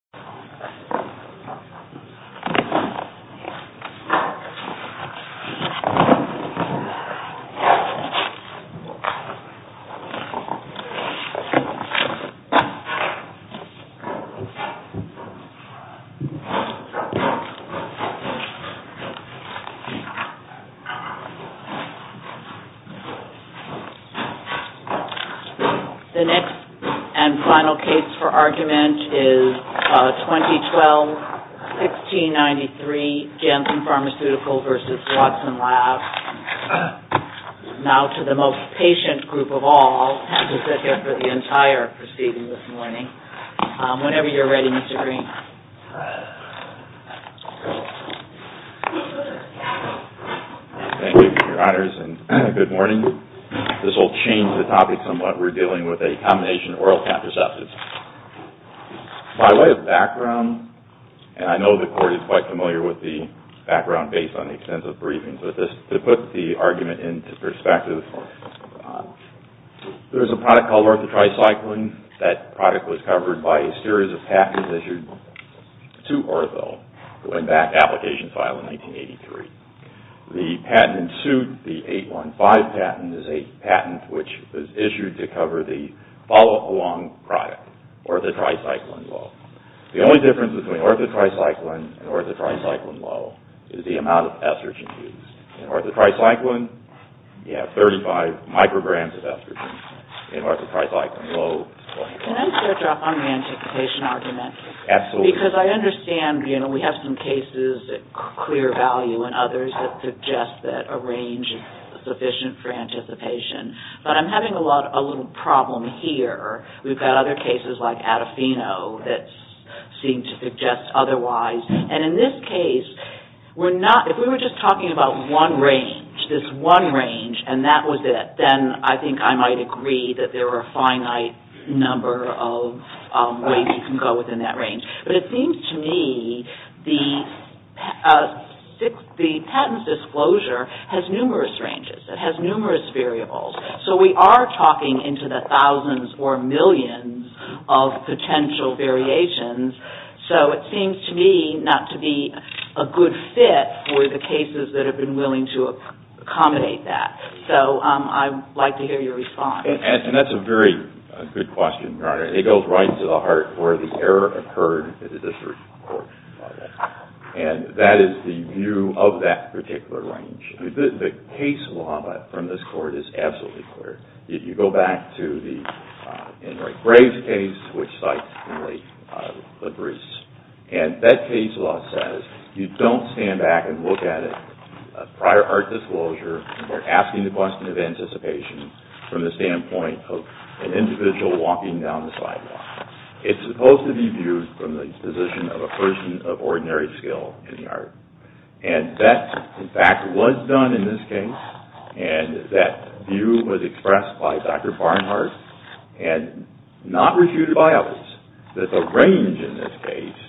A. JANSSEN PHARM v. WATSON LABS 2012-1693 JANSSEN PHARM v. WATSON LABS Now to the most patient group of all who sit here for the entire proceeding this morning. Whenever you're ready, Mr. Green. Thank you, Your Honors, and good morning. This will change the topic somewhat. We're dealing with a combination of oral contraceptives. By way of background, and I know the Court is quite familiar with the background based on the extensive briefings, but to put the argument into perspective, there's a product called orthotricycline. That product was covered by a series of patents issued to Oroville going back to the application file in 1983. The patent ensued, the 815 patent, is a patent which was issued to cover the follow-up along product, orthotricycline low. The only difference between orthotricycline and orthotricycline low is the amount of estrogen used. In orthotricycline, you have 35 micrograms of estrogen. In orthotricycline low, 24. Can I interrupt on the anticipation argument? Absolutely. Because I understand, you know, we have some cases at clear value and others that suggest that a range is sufficient for anticipation. But I'm having a little problem here. We've got other cases like Adafino that seem to suggest otherwise. And in this case, if we were just talking about one range, this one range, and that was it, then I think I might agree that there are a finite number of ways you can go within that range. But it seems to me the patent disclosure has numerous ranges. It has numerous variables. So we are talking into the thousands or millions of potential variations. So it seems to me not to be a good fit for the cases that have been willing to accommodate that. So I'd like to hear your response. And that's a very good question, Your Honor. It goes right to the heart where the error occurred in the district court. And that is the view of that particular range. The case law from this court is absolutely clear. You go back to the Enric Graves case, which cites the briefs. And that case law says you don't stand back and look at a prior art disclosure or asking the question of anticipation from the standpoint of an individual walking down the sidewalk. It's supposed to be viewed from the position of a person of ordinary skill in the art. And that, in fact, was done in this case. And that view was expressed by Dr. Barnhart and not refuted by others, that the range in this case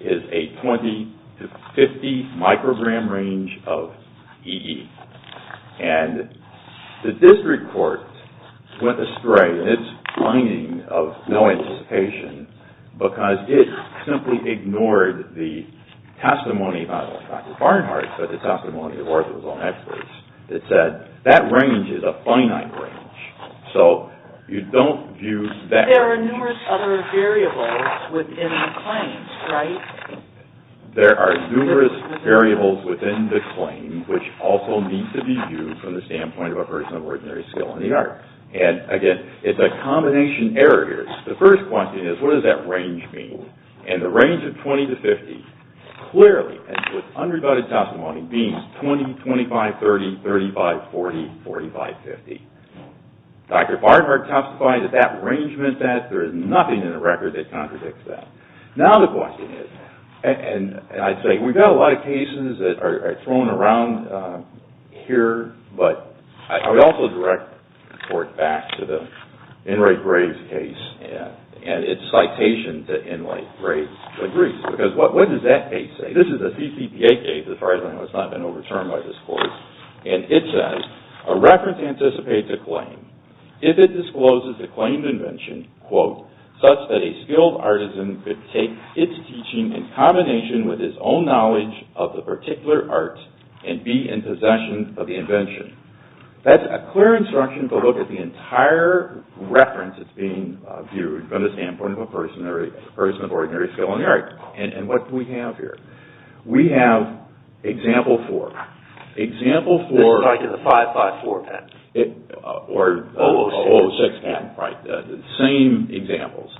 is a 20 to 50 microgram range of EE. And the district court went astray in its finding of no anticipation because it simply ignored the testimony by Dr. Barnhart, but the testimony of other law experts that said that range is a finite range. So you don't view that range. But there are numerous other variables within the claims, right? There are numerous variables within the claim, which also need to be viewed from the standpoint of a person of ordinary skill in the art. And, again, it's a combination error here. The first question is, what does that range mean? And the range of 20 to 50 clearly, as with unrebutted testimony, means 20, 25, 30, 35, 40, 45, 50. Dr. Barnhart testified that that range meant that. There is nothing in the record that contradicts that. Now the question is, and I'd say we've got a lot of cases that are thrown around here, but I would also direct the court back to the Enright-Graves case and its citation that Enright-Graves agrees. Because what does that case say? This is a CCPA case, as far as I know. It's not been overturned by this court. And it says, a reference anticipates a claim. If it discloses a claimed invention, such that a skilled artisan could take its teaching in combination with his own knowledge of the particular art and be in possession of the invention. That's a clear instruction to look at the entire reference that's being viewed from the standpoint of a person of ordinary skill in the art. And what do we have here? We have Example 4. Example 4. It's like in the 554 patent. Or 006 patent. Right. The same examples.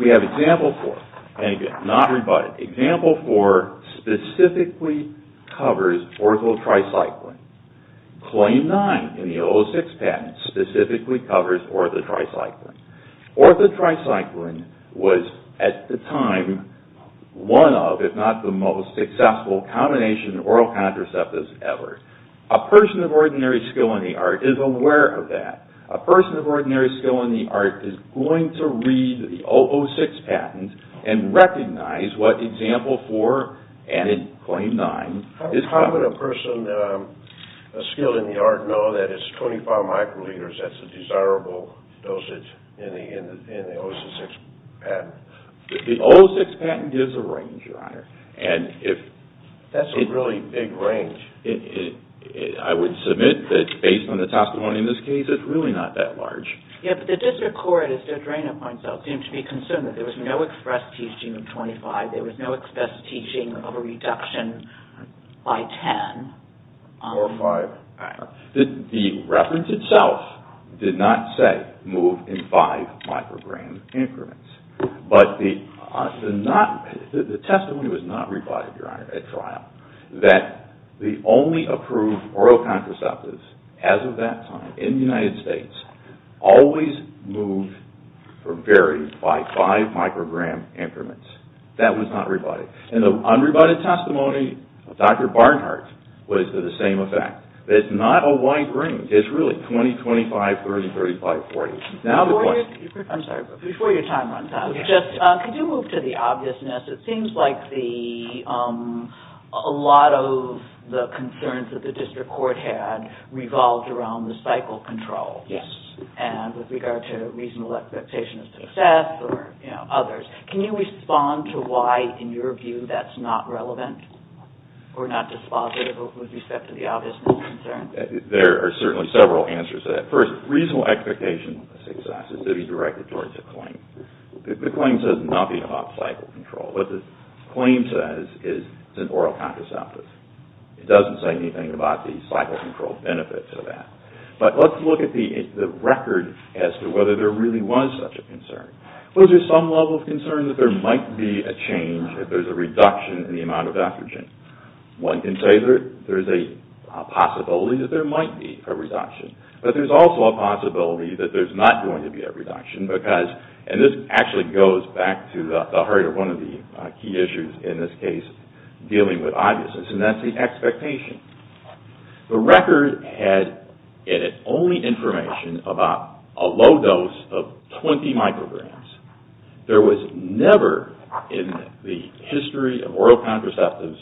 We have Example 4. And again, not rebutted. Example 4 specifically covers ortho-tricycling. Claim 9 in the 006 patent specifically covers ortho-tricycling. Ortho-tricycling was, at the time, one of, if not the most successful combination of oral contraceptives ever. A person of ordinary skill in the art is aware of that. A person of ordinary skill in the art is going to read the 006 patent and recognize what Example 4 and Claim 9 is covering. How would a person of skill in the art know that it's 25 microliters? That's a desirable dosage in the 006 patent. The 006 patent gives a range, Your Honor. That's a really big range. I would submit that, based on the testimony in this case, it's really not that large. Yeah, but the district court, as Judge Rayna points out, seemed to be concerned that there was no express teaching of 25. There was no express teaching of a reduction by 10. Or 5. The reference itself did not say move in 5 microgram increments. But the testimony was not rebutted, Your Honor, at trial, that the only approved oral contraceptives, as of that time, in the United States, always moved or varied by 5 microgram increments. That was not rebutted. In the unrebutted testimony, Dr. Barnhart was of the same effect. It's not a wide range. It's really 20, 25, 30, 35, 40. Before your time runs out, could you move to the obviousness? It seems like a lot of the concerns that the district court had revolved around the cycle control and with regard to reasonable expectation of success or others. Can you respond to why, in your view, that's not relevant or not dispositive with respect to the obviousness concern? There are certainly several answers to that. First, reasonable expectation of success is to be directed towards a claim. The claim says nothing about cycle control. What the claim says is it's an oral contraceptive. It doesn't say anything about the cycle control benefits of that. But let's look at the record as to whether there really was such a concern. Well, there's some level of concern that there might be a change if there's a reduction in the amount of estrogen. One can say that there's a possibility that there might be a reduction. But there's also a possibility that there's not going to be a reduction because, and this actually goes back to the heart of one of the key issues in this case dealing with obviousness, and that's the expectation. The record had in it only information about a low dose of 20 micrograms. There was never in the history of oral contraceptives,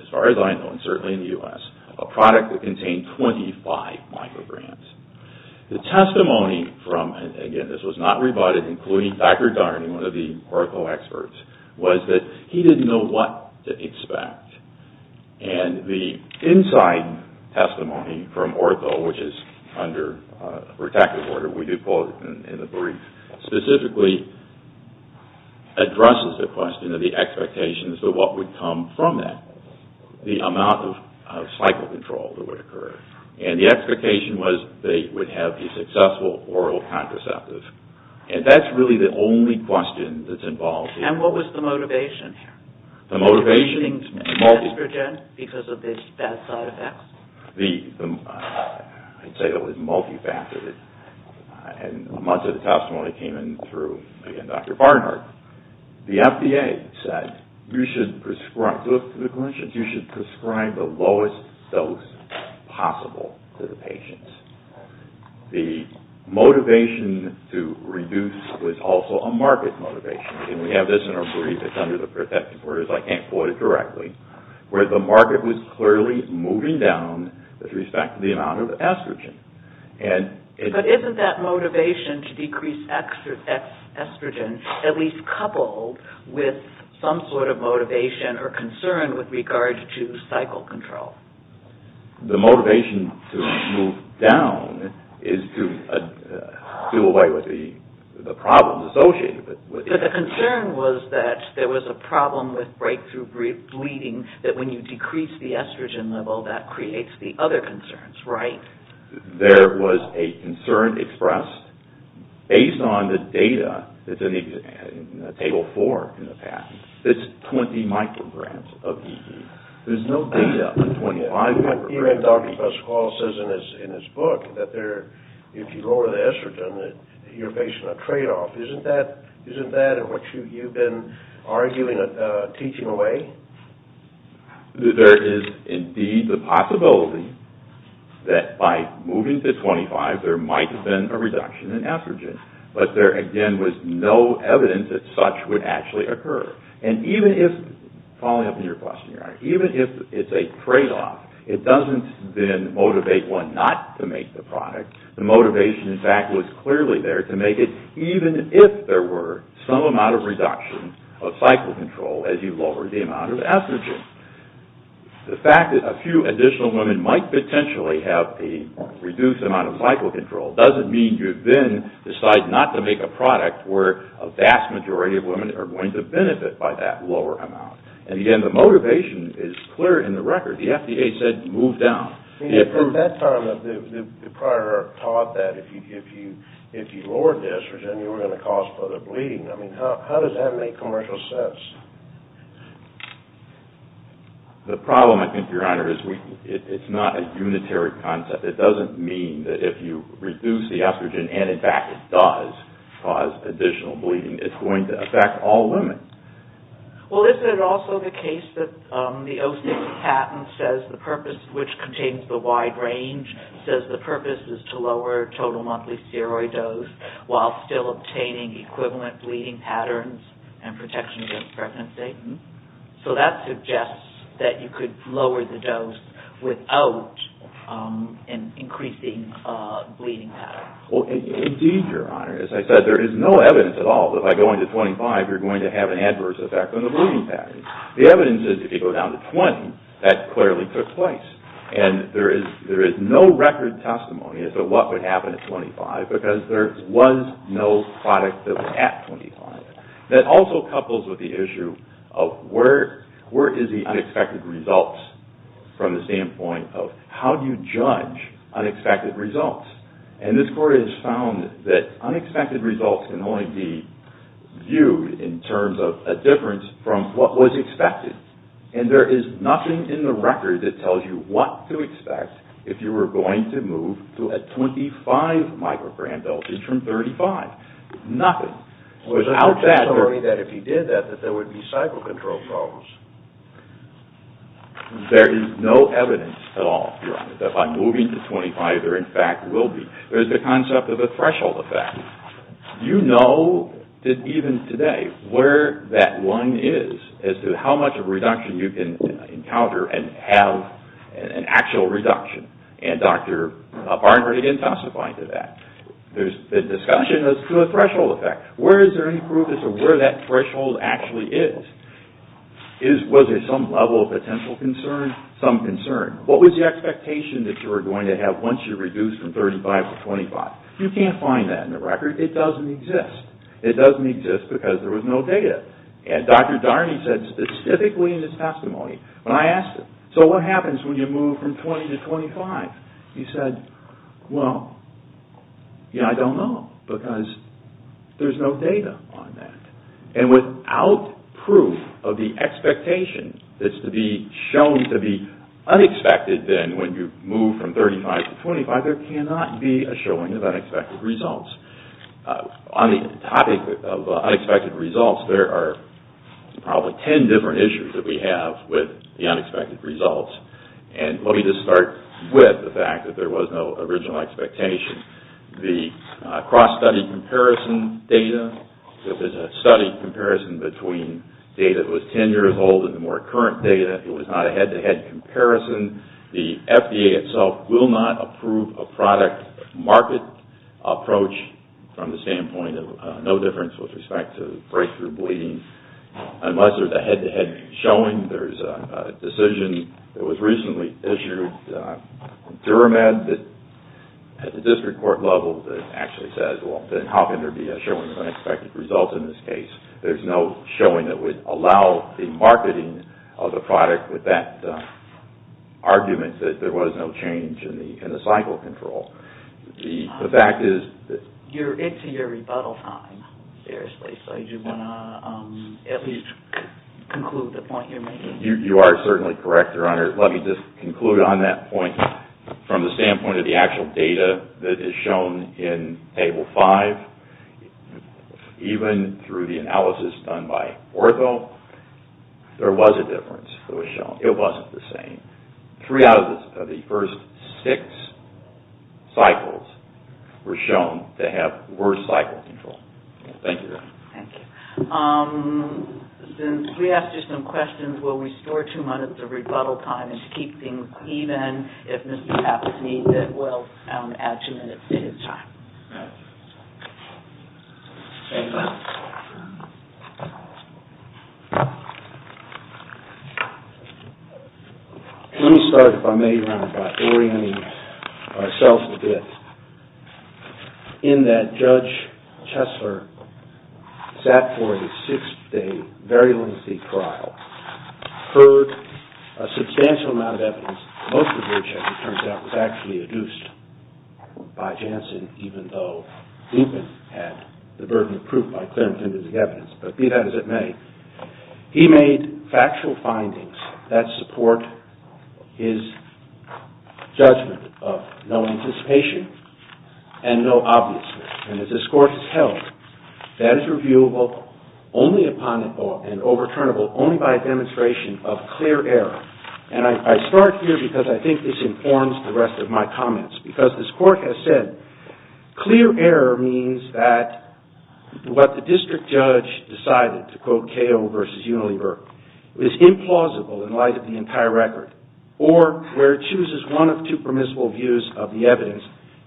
as far as I know and certainly in the U.S., a product that contained 25 micrograms. The testimony from, and again, this was not rebutted, including Dr. Darning, one of the Oracle experts, was that he didn't know what to expect. And the inside testimony from Ortho, which is under protective order, we do quote in the brief, specifically addresses the question of the expectations of what would come from that, the amount of cycle control that would occur. And the expectation was they would have a successful oral contraceptive. And that's really the only question that's involved. And what was the motivation? The motivation? Estrogen, because of the bad side effects. I'd say it was multifactored. And much of the testimony came in through, again, Dr. Barnhart. The FDA said you should prescribe, to the clinicians, you should prescribe the lowest dose possible to the patients. The motivation to reduce was also a market motivation. And we have this in our brief. It's under the protective orders. I can't quote it directly. Where the market was clearly moving down with respect to the amount of estrogen. But isn't that motivation to decrease estrogen at least coupled with some sort of motivation or concern with regard to cycle control? The motivation to move down is to do away with the problems associated with it. But the concern was that there was a problem with breakthrough bleeding, that when you decrease the estrogen level, that creates the other concerns, right? There was a concern expressed based on the data that's in Table 4 in the past. It's 20 micrograms of ED. There's no data on 25 micrograms of ED. Even Dr. Pascual says in his book that if you lower the estrogen, you're facing a tradeoff. Isn't that what you've been teaching away? There is indeed the possibility that by moving to 25, there might have been a reduction in estrogen. But there again was no evidence that such would actually occur. And even if, following up on your question, even if it's a tradeoff, it doesn't then motivate one not to make the product. The motivation, in fact, was clearly there to make it even if there were some amount of reduction of cycle control as you lowered the amount of estrogen. The fact that a few additional women might potentially have a reduced amount of cycle control doesn't mean you then decide not to make a product where a vast majority of women are going to benefit by that lower amount. And again, the motivation is clear in the record. The FDA said move down. At that time, they probably taught that if you lowered the estrogen, you were going to cause further bleeding. I mean, how does that make commercial sense? The problem, I think, Your Honor, is it's not a unitary concept. It doesn't mean that if you reduce the estrogen, and in fact it does cause additional bleeding, it's going to affect all women. Well, is it also the case that the O6 patent says the purpose, which contains the wide range, says the purpose is to lower total monthly steroid dose while still obtaining equivalent bleeding patterns and protection against pregnancy? So that suggests that you could lower the dose without increasing bleeding patterns. Well, indeed, Your Honor, as I said, there is no evidence at all that by going to 25 you're going to have an adverse effect on the bleeding patterns. The evidence is if you go down to 20, that clearly took place. And there is no record testimony as to what would happen at 25 because there was no product that was at 25. That also couples with the issue of where is the unexpected results from the standpoint of how do you judge unexpected results? And this Court has found that unexpected results can only be viewed in terms of a difference from what was expected. And there is nothing in the record that tells you what to expect if you were going to move to a 25 microgram dosage from 35. Nothing. So there's no testimony that if you did that, that there would be cycle control problems. There is no evidence at all, Your Honor, that by moving to 25 there in fact will be. There's the concept of a threshold effect. You know that even today where that one is as to how much of a reduction you can encounter and have an actual reduction. And Dr. Barnhart again testified to that. There's been discussion as to a threshold effect. Where is there any proof as to where that threshold actually is? Was there some level of potential concern? Some concern. What was the expectation that you were going to have once you reduced from 35 to 25? You can't find that in the record. It doesn't exist. It doesn't exist because there was no data. And Dr. Darney said specifically in his testimony when I asked him, so what happens when you move from 20 to 25? He said, well, I don't know because there's no data on that. And without proof of the expectation that's to be shown to be unexpected, then when you move from 35 to 25 there cannot be a showing of unexpected results. On the topic of unexpected results, there are probably 10 different issues that we have with the unexpected results. And let me just start with the fact that there was no original expectation. The cross-study comparison data, this is a study comparison between data that was 10 years old and the more current data. It was not a head-to-head comparison. The FDA itself will not approve a product market approach from the standpoint of no difference with respect to breakthrough bleeding unless there's a head-to-head showing. There's a decision that was recently issued in Duramed at the district court level that actually says, well, then how can there be a showing of unexpected results in this case? There's no showing that would allow the marketing of the product with that argument that there was no change in the cycle control. The fact is that... You are certainly correct, Your Honor. Let me just conclude on that point. From the standpoint of the actual data that is shown in Table 5, even through the analysis done by Ortho, there was a difference that was shown. It wasn't the same. Three out of the first six cycles were shown to have worse cycle control. Thank you, Your Honor. Thank you. Since we asked you some questions, will we store two minutes of rebuttal time and keep things even? If Mr. Hafford needs it, we'll add two minutes to his time. All right. Thank you, Your Honor. Let me start, if I may, Your Honor, by orienting ourselves a bit in that Judge Chesler sat for a six-day, very lengthy trial, heard a substantial amount of evidence, most of which, as it turns out, was actually adduced by Jansen, even though Dupin had the burden of proof by clear and convincing evidence. But be that as it may, he made factual findings that support his judgment of no anticipation and no obviousness. And as this Court has held, that is reviewable only upon and overturnable only by a demonstration of clear error. And I start here because I think this informs the rest of my comments, because this Court has said clear error means that what the district judge decided, to quote Cahill v. Unilever, is implausible in light of the entire record, or where it chooses one of two permissible views of the evidence,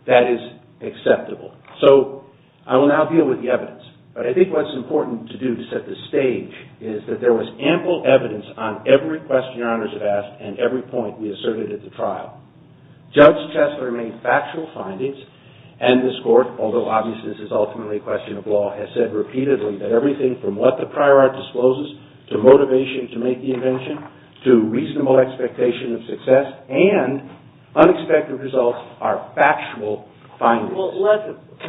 that is acceptable. So I will now deal with the evidence. But I think what's important to do to set the stage is that there was ample evidence on every question Your Honors have asked and every point we asserted at the trial. Judge Chesler made factual findings, and this Court, although obviously this is ultimately a question of law, has said repeatedly that everything from what the prior art discloses to motivation to make the invention, to reasonable expectation of success, and unexpected results are factual findings. Well, let's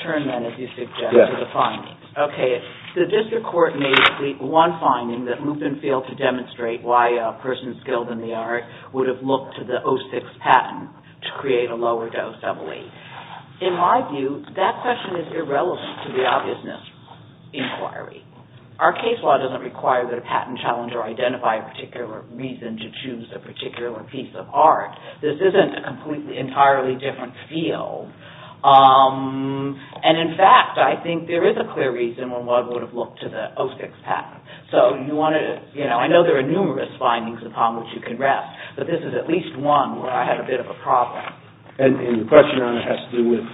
turn then, as you suggest, to the findings. Okay, the district court made one finding that Lupin failed to demonstrate why a person skilled in the art would have looked to the 06 patent to create a lower-dose double-A. In my view, that question is irrelevant to the obviousness inquiry. Our case law doesn't require that a patent challenger identify a particular reason to choose a particular piece of art. This isn't a completely, entirely different field. And in fact, I think there is a clear reason why one would have looked to the 06 patent. So, you know, I know there are numerous findings upon which you can rest, but this is at least one where I had a bit of a problem. And your question, Your Honor, has to do with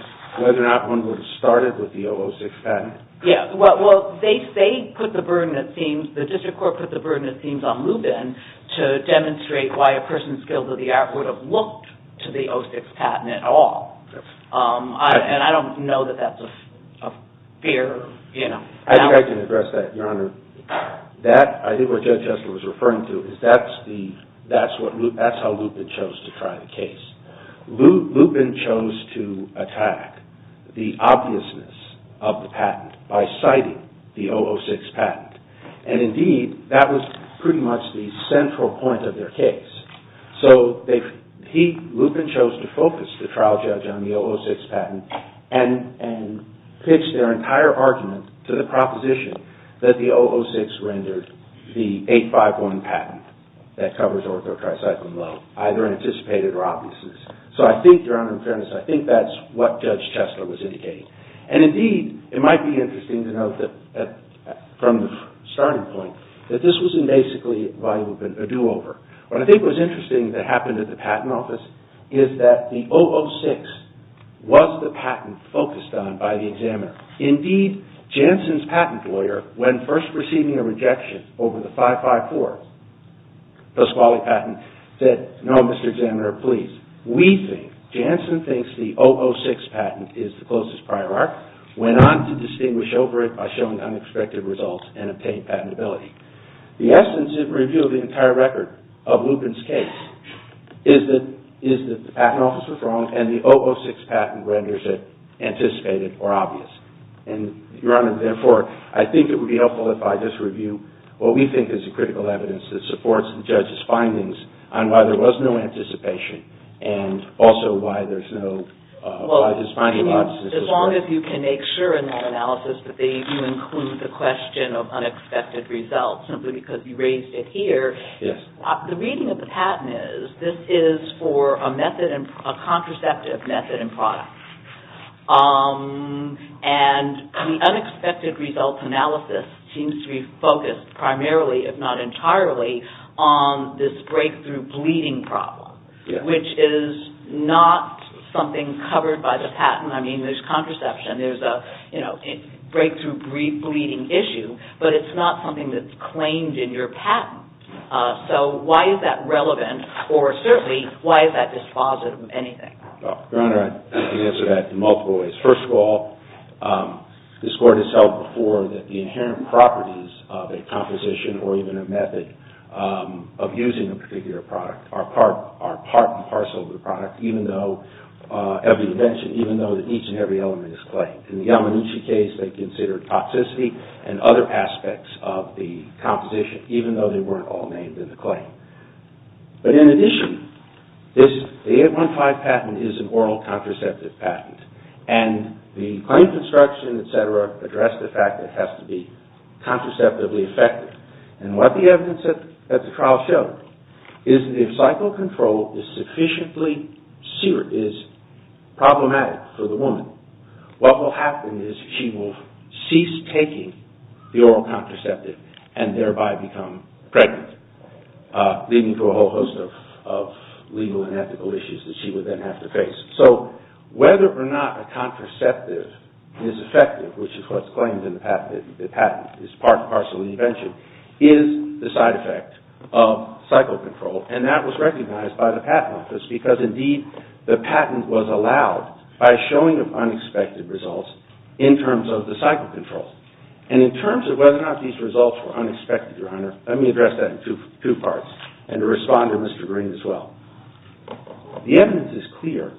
whether or not one would have started with the 06 patent. Yeah, well, they put the burden, it seems, the district court put the burden, it seems, on Lupin to demonstrate why a person skilled in the art would have looked to the 06 patent at all. And I don't know that that's a fair, you know... I think I can address that, Your Honor. That, I think what Judge Estler was referring to, is that's how Lupin chose to try the case. Lupin chose to attack the obviousness of the patent by citing the 006 patent. And indeed, that was pretty much the central point of their case. So, Lupin chose to focus the trial judge on the 006 patent and pitch their entire argument to the proposition that the 006 rendered the 851 patent that covers ortho, tricycle, and low, either anticipated or obviousness. So, I think, Your Honor, in fairness, I think that's what Judge Estler was indicating. And indeed, it might be interesting to note that, from the starting point, that this wasn't basically, by Lupin, a do-over. What I think was interesting that happened at the patent office is that the 006 was the patent focused on by the examiner. Indeed, Janssen's patent lawyer, when first receiving a rejection over the 554, the squally patent, said, no, Mr. Examiner, please, we think, Janssen thinks the 006 patent is the closest prior art, went on to distinguish over it by showing unexpected results and obtained patentability. The essence of the review of the entire record of Lupin's case is that the patent office was wrong and the 006 patent renders it anticipated or obvious. And, Your Honor, therefore, I think it would be helpful if I just review what we think is the critical evidence that supports the judge's findings on why there was no anticipation and also why there's no... Well, as long as you can make sure in that analysis that you include the question of unexpected results, simply because you raised it here. Yes. The reading of the patent is, this is for a contraceptive method and product. And the unexpected results analysis seems to be focused primarily, if not entirely, on this breakthrough bleeding problem, which is not something covered by the patent. I mean, there's contraception, there's a breakthrough bleeding issue, but it's not something that's claimed in your patent. So why is that relevant? Or, certainly, why is that dispositive of anything? Your Honor, I can answer that in multiple ways. First of all, this Court has held before that the inherent properties of a composition or even a method of using a particular product are part and parcel of the product, even though every invention, even though each and every element is claimed. In the Yamanishi case, they considered toxicity and other aspects of the composition, even though they weren't all named in the claim. But in addition, the 815 patent is an oral contraceptive patent. And the claim construction, et cetera, addressed the fact that it has to be contraceptively effective. And what the evidence at the trial showed is that if psychocontrol is problematic for the woman, what will happen is she will cease taking the oral contraceptive and thereby become pregnant, leading to a whole host of legal and ethical issues that she would then have to face. So whether or not a contraceptive is effective, which is what's claimed in the patent, is part and parcel of the invention, is the side effect of psychocontrol. And that was recognized by the Patent Office because indeed the patent was allowed by a showing of unexpected results in terms of the psychocontrol. And in terms of whether or not these results were unexpected, let me address that in two parts and respond to Mr. Green as well. The evidence is clear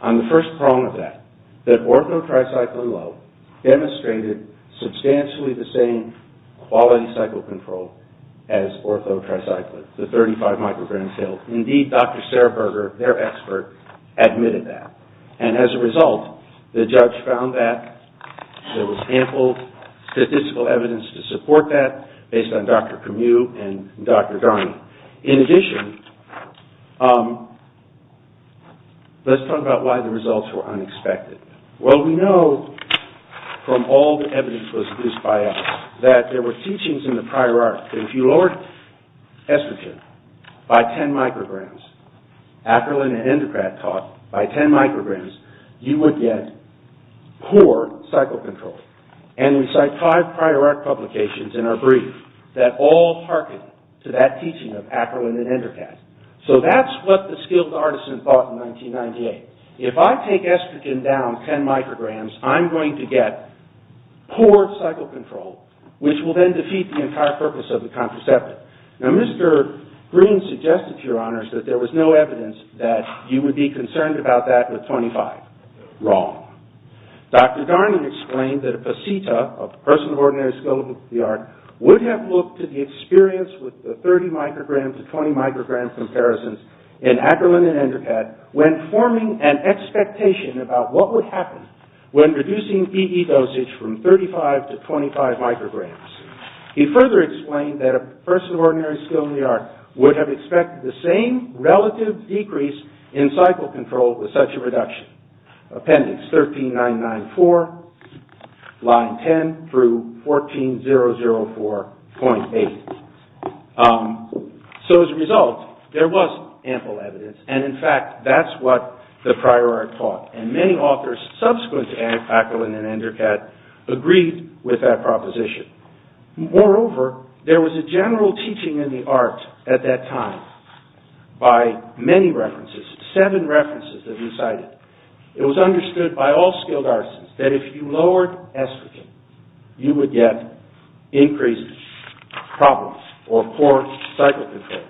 on the first prong of that, that orthotricycline low demonstrated substantially the same quality psychocontrol as orthotricycline, the 35 microgram pill. Indeed, Dr. Sarah Berger, their expert, admitted that. And as a result, the judge found that there was ample statistical evidence to support that based on Dr. Camus and Dr. Darney. In addition, let's talk about why the results were unexpected. Well, we know from all the evidence that was produced by us that there were teachings in the prior art that if you lowered estrogen by 10 micrograms, Akerlin and Endocrat taught by 10 micrograms, you would get poor psychocontrol. And we cite five prior art publications in our brief that all harken to that teaching of Akerlin and Endocrat So that's what the skilled artisan thought in 1998. If I take estrogen down 10 micrograms, I'm going to get poor psychocontrol, which will then defeat the entire purpose of the contraceptive. Now, Mr. Green suggested to your honors that there was no evidence that you would be concerned about that with 25. Wrong. Dr. Darney explained that a peseta, a person of ordinary skill with the art, would have looked at the experience with the 30 microgram to 20 microgram comparisons in Akerlin and Endocrat when forming an expectation about what would happen when reducing EE dosage from 35 to 25 micrograms. He further explained that a person of ordinary skill in the art would have expected the same relative decrease in psychocontrol with such a reduction. Appendix 13994, line 10 through 14004.8. So as a result, there was ample evidence, and in fact, that's what the prior art taught. And many authors subsequent to Akerlin and Endocrat agreed with that proposition. Moreover, there was a general teaching in the art at that time by many references, seven references that he cited. It was understood by all skilled artisans that if you lowered estrogen, you would get increases, problems, or poor psychocontrol.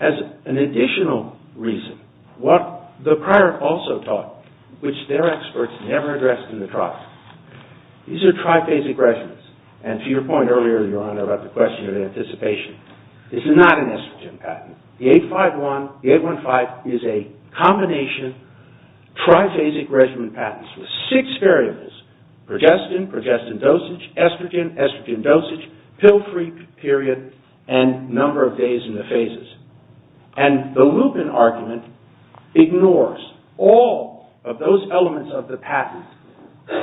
As an additional reason, what the prior art also taught, which their experts never addressed in the trial, these are triphasic regimens. And to your point earlier, Your Honor, about the question of anticipation, this is not an estrogen patent. The 815 is a combination of triphasic regimen patents with six variables, progestin, progestin dosage, estrogen, estrogen dosage, pill-free period, and number of days in the phases. And the Lupin argument ignores all of those elements of the patent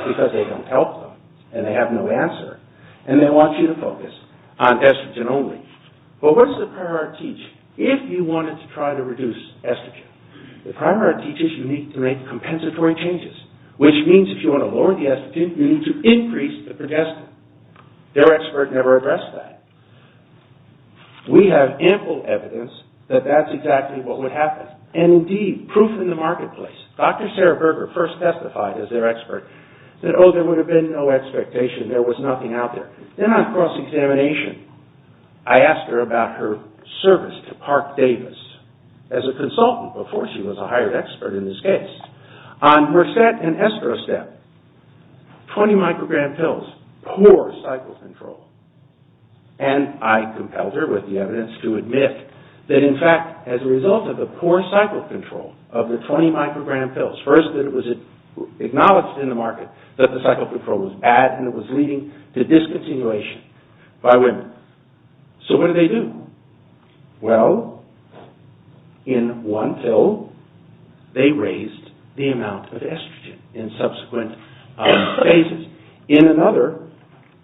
because they don't help them, and they have no answer, and they want you to focus on estrogen only. But what's the prior art teach if you wanted to try to reduce estrogen? The prior art teaches you need to make compensatory changes, which means if you want to lower the estrogen, you need to increase the progestin. Their expert never addressed that. We have ample evidence that that's exactly what would happen. And indeed, proof in the marketplace. Dr. Sarah Berger first testified as their expert that, oh, there would have been no expectation, there was nothing out there. Then on cross-examination, I asked her about her service to Park Davis as a consultant before she was a hired expert in this case. On Mercet and Estrostep, 20-microgram pills, poor cycle control. And I compelled her with the evidence to admit that, in fact, as a result of the poor cycle control of the 20-microgram pills, first that it was acknowledged in the market that the cycle control was bad, and it was leading to discontinuation by women. So what do they do? Well, in one pill, they raised the amount of estrogen in subsequent phases. In another,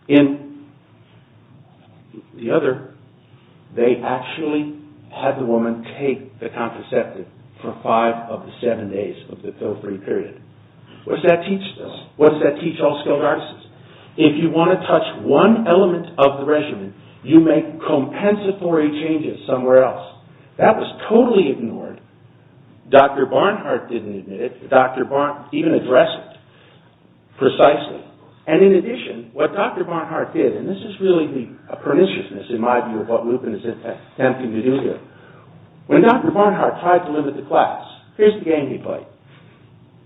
in the other, they actually had the woman take the contraceptive for five of the seven days of the pill-free period. What does that teach us? What does that teach all skilled artists? If you want to touch one element of the regimen, you make compensatory changes somewhere else. That was totally ignored. Dr. Barnhart didn't admit it. Dr. Barnhart didn't even address it precisely. And in addition, what Dr. Barnhart did, and this is really the perniciousness, in my view, of what Lupin is attempting to do here. When Dr. Barnhart tried to limit the class, here's the game he played.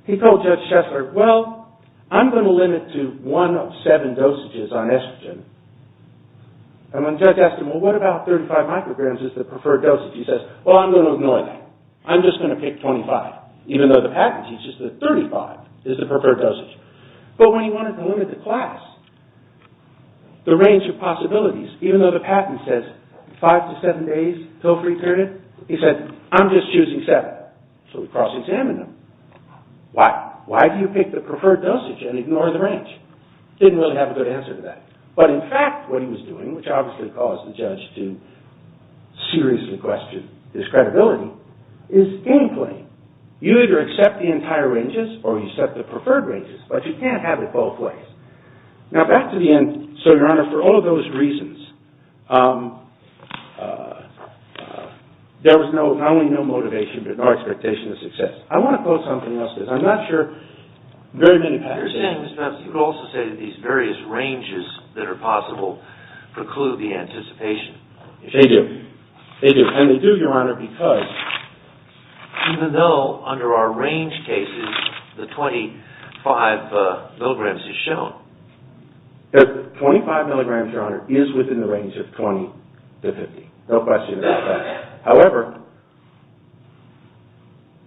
He told Judge Shessler, well, I'm going to limit to one of seven dosages on estrogen. And when Judge asked him, well, what about 35 micrograms is the preferred dosage? He says, well, I'm going to ignore that. I'm just going to pick 25, even though the patent teaches that 35 is the preferred dosage. But when he wanted to limit the class, the range of possibilities, even though the patent says five to seven days pill-free period, he said, I'm just choosing seven. So we cross-examined them. Why? Why do you pick the preferred dosage and ignore the range? Didn't really have a good answer to that. But in fact, what he was doing, which obviously caused the judge to seriously question his credibility, is game-playing. You either accept the entire ranges, or you accept the preferred ranges, but you can't have it both ways. Now, back to the end. So, Your Honor, for all of those reasons, there was not only no motivation, but no expectation of success. I want to quote something else, because I'm not sure very many patents say that. You're saying, Mr. Epps, you could also say that these various ranges that are possible preclude the anticipation. They do. They do. And they do, Your Honor, because even though under our range cases, the 25 milligrams is shown. 25 milligrams, Your Honor, is within the range of 20 to 50. No question about that. However,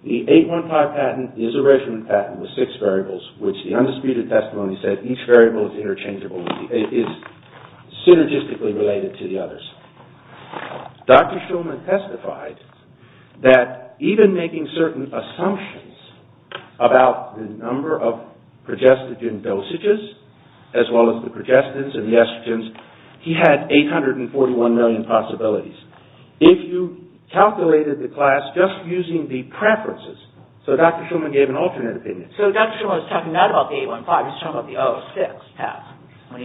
the 815 patent is a regiment patent with six variables, which the undisputed testimony said each variable is interchangeable, is synergistically related to the others. Dr. Schulman testified that even making certain assumptions about the number of progestogen dosages, as well as the progestins and the estrogens, he had 841 million possibilities. If you calculated the class just using the preferences, so Dr. Schulman gave an alternate opinion. So Dr. Schulman was talking not about the 815, he was talking about the 006 test.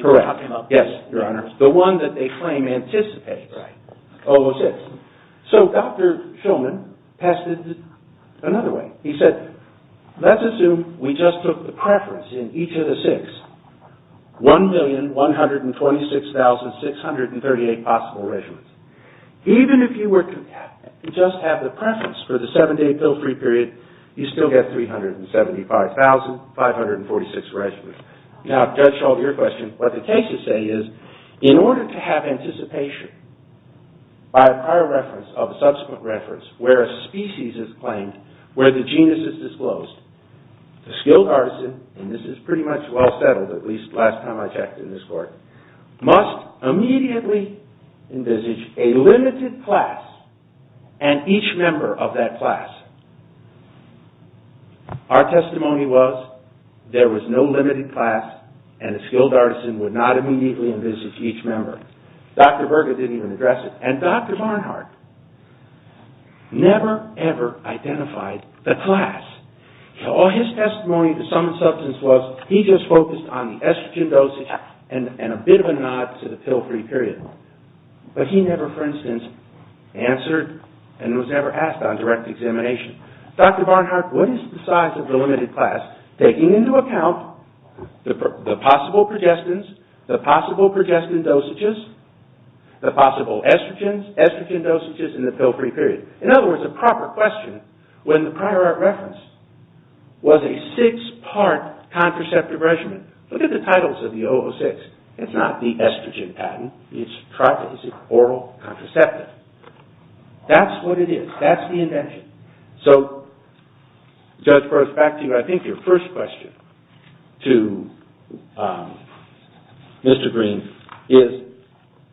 Correct. Yes, Your Honor. The one that they claim anticipates 006. So Dr. Schulman tested it another way. He said, let's assume we just took the preference in each of the six, 1,126,638 possible regiments. Even if you were to just have the preference for the seven-day pill-free period, you still get 375,546 regiments. Now, Judge Schultz, your question, what the cases say is in order to have anticipation by a prior reference of a subsequent reference where a species is claimed, where the genus is disclosed, the skilled artisan, and this is pretty much well settled, at least last time I checked in this court, must immediately envisage a limited class and each member of that class. Our testimony was there was no limited class and a skilled artisan would not immediately envisage each member. Dr. Berger didn't even address it. And Dr. Barnhart never, ever identified the class. All his testimony to some substance was he just focused on the estrogen dosage and a bit of a nod to the pill-free period. But he never, for instance, answered and was never asked on direct examination, Dr. Barnhart, what is the size of the limited class taking into account the possible progestins, the possible progestin dosages, the possible estrogens, estrogen dosages and the pill-free period? In other words, a proper question when the prior reference was a six-part contraceptive regimen. Look at the titles of the 006. It's not the estrogen patent. It's oral contraceptive. That's what it is. That's the invention. So, Judge Berger, back to you. I think your first question to Mr. Green is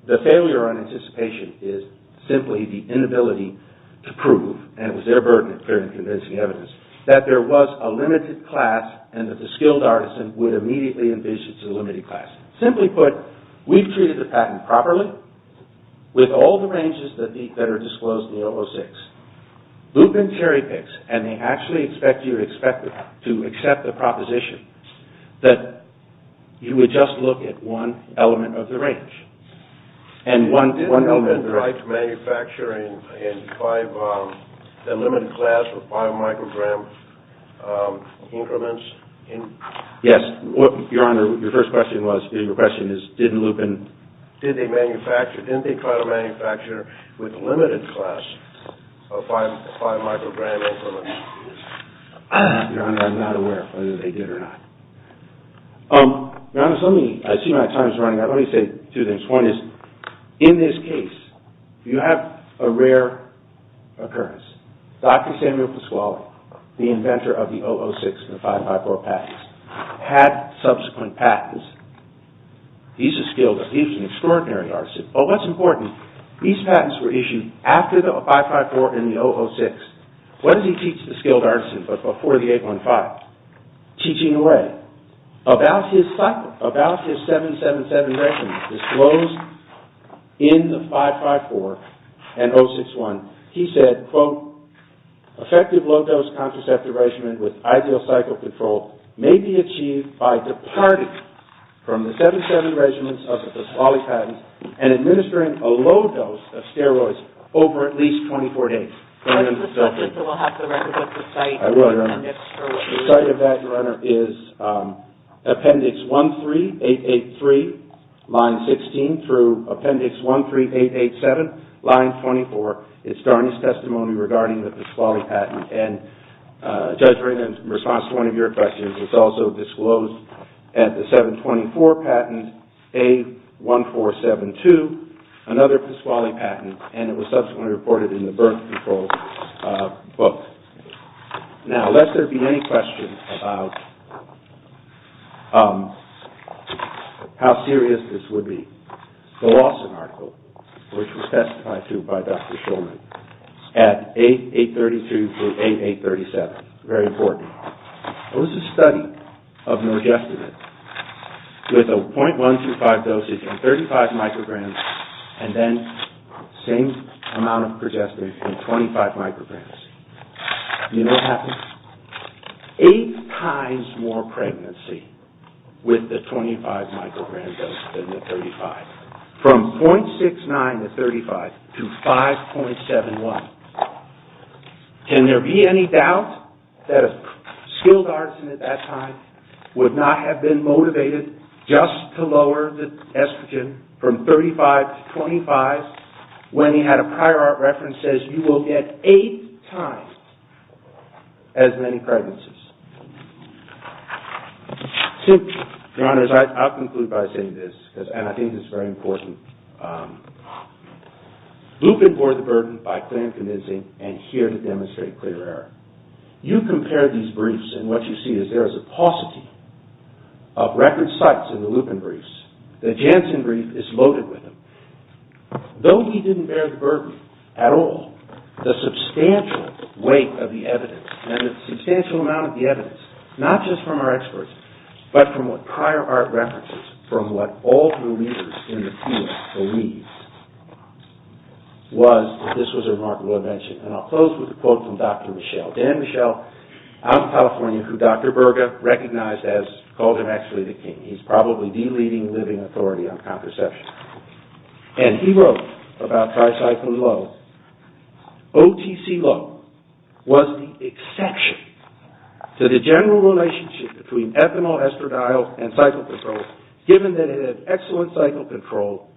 the failure on anticipation is simply the inability to prove and it was their burden of clear and convincing evidence that there was a limited class and that the skilled artisan would immediately envision it's a limited class. Simply put, we've treated the patent properly with all the ranges that are disclosed in the 006. Boop and cherry picks and they actually expect you to accept the proposition that you would just look at one element of the range. Did Lupin try to manufacture in a limited class with 5-microgram increments? Yes. Your Honor, your first question was, your question is did Lupin... Did they manufacture, didn't they try to manufacture with a limited class of 5-microgram increments? Your Honor, I'm not aware whether they did or not. Your Honor, I see my time is running out. Let me say two things. One is, in this case, you have a rare occurrence. Dr. Samuel Pasquale, the inventor of the 006 and the 554 patents, had subsequent patents. He's a skilled, he's an extraordinary artisan. Oh, what's important, these patents were issued after the 554 and the 006. What did he teach the skilled artisan but before the 815? Teaching away. About his cycle, about his 777 regimen disclosed in the 554 and 0061, he said, quote, effective low-dose contraceptive regimen with ideal cycle control may be achieved by departing from the 777 regimens of the Pasquale patents and administering a low dose of steroids over at least 24 days. Your Honor, the subject of that, Your Honor, is Appendix 13883, line 16, through Appendix 13887, line 24, its garnish testimony regarding the Pasquale patent. And, Judge Raymond, in response to one of your questions, it's also disclosed at the 724 patent, A1472, another Pasquale patent, and it was subsequently reported in the birth control book. Now, lest there be any questions about how serious this would be, the Lawson article, which was testified to by Dr. Shulman, at A832 through A837, very important, was a study of nergestimate with a 0.125 dosage and 35 micrograms and then same amount of progesterone in 25 micrograms. You know what happens? Eight times more pregnancy with the 25 microgram dose than the 35. From 0.69 to 35 to 5.71. Can there be any doubt that a skilled artisan at that time would not have been motivated just to lower the estrogen from 35 to 25 when he had a prior art reference that says you will get eight times as many pregnancies? Simply, Your Honors, I'll conclude by saying this, and I think it's very important. Lupin bore the burden by clear and convincing and here to demonstrate clear error. You compare these briefs and what you see is there is a paucity of record sites in the Lupin briefs. The Janssen brief is loaded with them. Though he didn't bear the burden at all, the substantial weight of the evidence and the substantial amount of the evidence, not just from our experts, but from what prior art references from what all the leaders in the field believe, was that this was a remarkable invention. And I'll close with a quote from Dr. Michel. Dan Michel, out in California, who Dr. Berger recognized as, called him actually the king. He's probably the leading living authority on contraception. And he wrote about tricycline lows, OTC low was the exception to the general relationship between ethanol, estradiol, and cycle control, given that it had excellent cycle control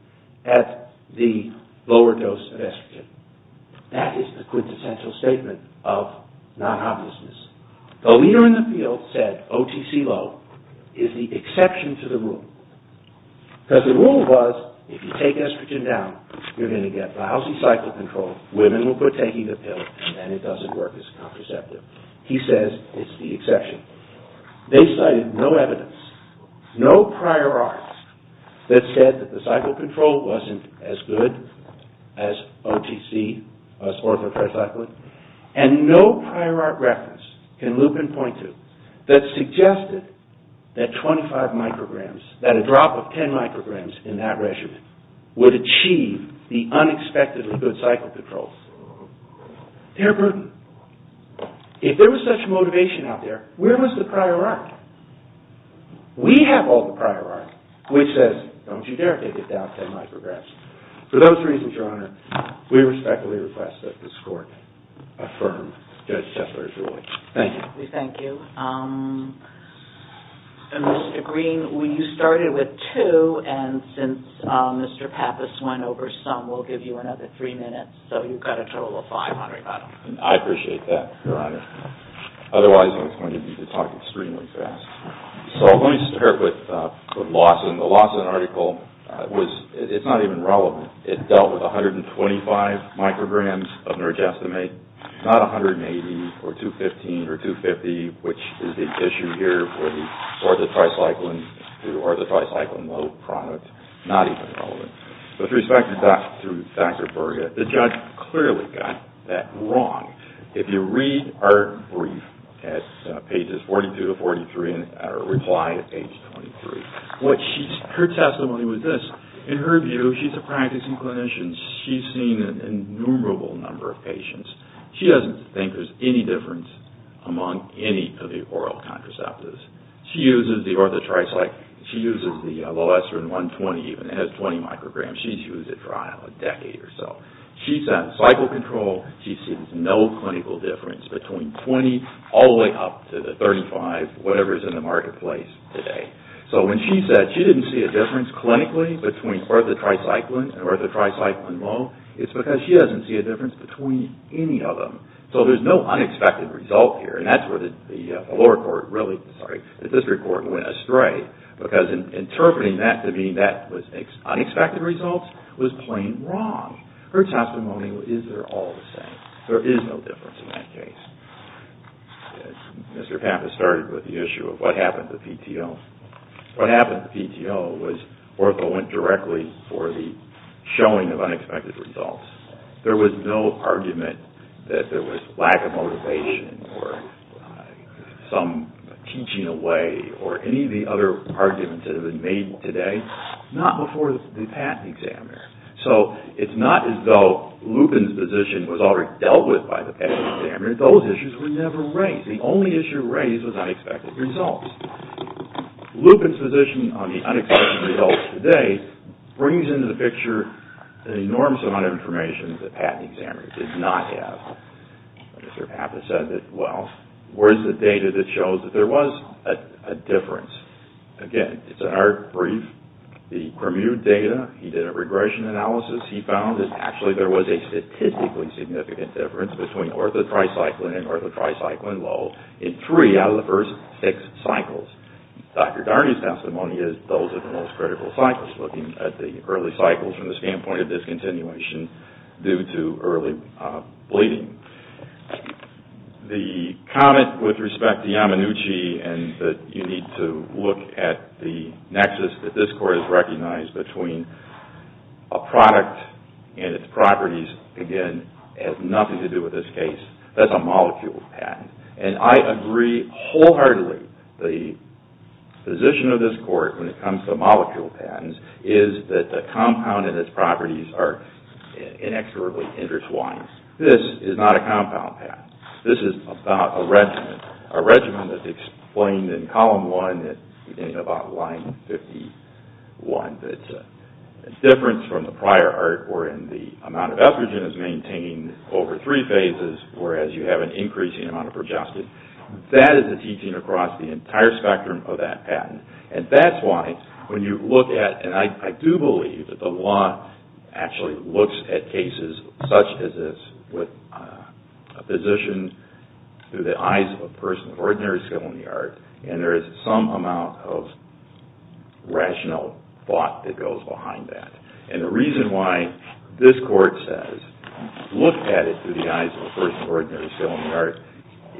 at the lower dose of estrogen. That is the quintessential statement of non-obviousness. The leader in the field said OTC low is the exception to the rule. Because the rule was, if you take estrogen down, you're going to get lousy cycle control, women will quit taking the pill, and it doesn't work as contraceptive. He says it's the exception. They cited no evidence, no prior art that said that the cycle control wasn't as good as OTC, as ortho-tricyclic, and no prior art reference, can Lupin point to, that suggested that 25 micrograms, that a drop of 10 micrograms in that regimen, would achieve the unexpectedly good cycle control. Dear Bruton, if there was such motivation out there, where was the prior art? We have all the prior art, which says, don't you dare take it down 10 micrograms. For those reasons, Your Honor, we respectfully request that this court affirm Judge Tessler's ruling. Thank you. We respectfully thank you. Mr. Green, you started with two, and since Mr. Pappas went over some, we'll give you another three minutes. So you've got a total of 500, Your Honor. I appreciate that, Your Honor. Otherwise, I was going to need to talk extremely fast. So let me start with Lawson. The Lawson article was, it's not even relevant. It dealt with 125 micrograms of nergastamate, not 180, or 215, or 250, which is the issue here for the orthotricycline to orthotricycline low product. Not even relevant. With respect to Dr. Berger, the judge clearly got that wrong. If you read our brief at pages 42 to 43, and reply at page 23, her testimony was this. In her view, she's a practicing clinician. She's seen an innumerable number of patients. She doesn't think there's any difference among any of the oral contraceptives. She uses the orthotricycline. She uses the low ester in 120, even. It has 20 micrograms. She's used it for, I don't know, a decade or so. She's had cycle control. She's seen no clinical difference between 20, all the way up to the 35, whatever's in the marketplace today. So when she said she didn't see a difference clinically between orthotricycline and orthotricycline low, it's because she doesn't see a difference between any of them. So there's no unexpected result here. And that's where the lower court really, sorry, the district court went astray. Because in interpreting that to mean that was unexpected results was plain wrong. Her testimony is they're all the same. There is no difference in that case. Mr. Pappas started with the issue of what happened to PTO. What happened to PTO was ortho went directly for the showing of unexpected results. There was no argument that there was lack of motivation or some teaching away or any of the other arguments that have been made today. Not before the patent examiner. So it's not as though Lupin's position was already dealt with by the patent examiner. Those issues were never raised. Lupin's position on the unexpected results today brings into the picture an enormous amount of information that the patent examiner did not have. Mr. Pappas said that, well, where's the data that shows that there was a difference? Again, it's an art brief. The Cremude data, he did a regression analysis. He found that actually there was a statistically significant difference between ortho tricycline and ortho tricycline low in three out of the first six cycles. Dr. Darney's testimony is those are the most critical cycles. We're just looking at the early cycles from the standpoint of discontinuation due to early bleeding. The comment with respect to Yamanuchi and that you need to look at the nexus that this Court has recognized between a product and its properties, again, has nothing to do with this case. That's a molecule patent. And I agree wholeheartedly the position of this Court when it comes to molecule patents is that the compound and its properties are inexorably intertwined. This is not a compound patent. This is about a regimen. A regimen that's explained in column one in about line 51. It's a difference from the prior art wherein the amount of estrogen is maintained over three phases whereas you have an increasing amount of progestin. That is a teaching across the entire spectrum of that patent. And that's why when you look at, and I do believe that the law actually looks at cases such as this with a physician through the eyes of a person of ordinary skill in the art, and there is some amount of rational thought that goes behind that. And the reason why this Court says look at it through the eyes of a person of ordinary skill in the art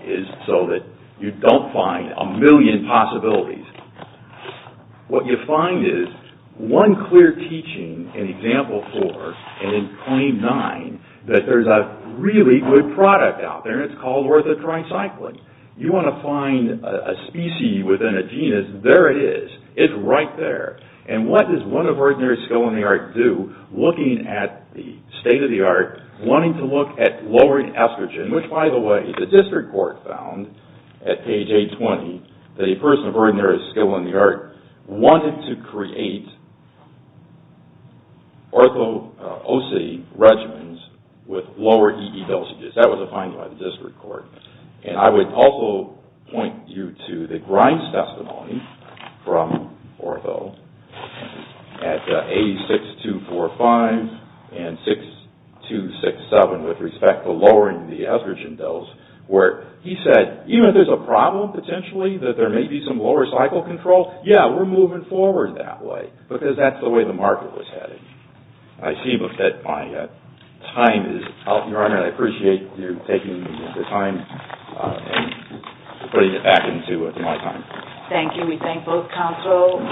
is so that you don't find a million possibilities What you find is one clear teaching in example four and in claim nine that there's a really good product out there and it's called orthotricycline. You want to find a species within a genus, there it is. It's right there. And what does one of ordinary skill in the art do looking at the state of the art wanting to look at lowering estrogen, which by the way the district court found at page 820 that a person of ordinary skill in the art wanted to create ortho-oc regimens with lower EE dosages. That was a finding by the district court. And I would also point you to the Grimes testimony from ortho at 86245 and 6267 with respect to lowering the estrogen dose where he said even if there's a problem potentially that there may be some lower cycle control yeah, we're moving forward that way because that's the way the market was headed. I see that my time is up. Your Honor, I appreciate you taking the time and putting it back into my time. Thank you. We thank both counsel.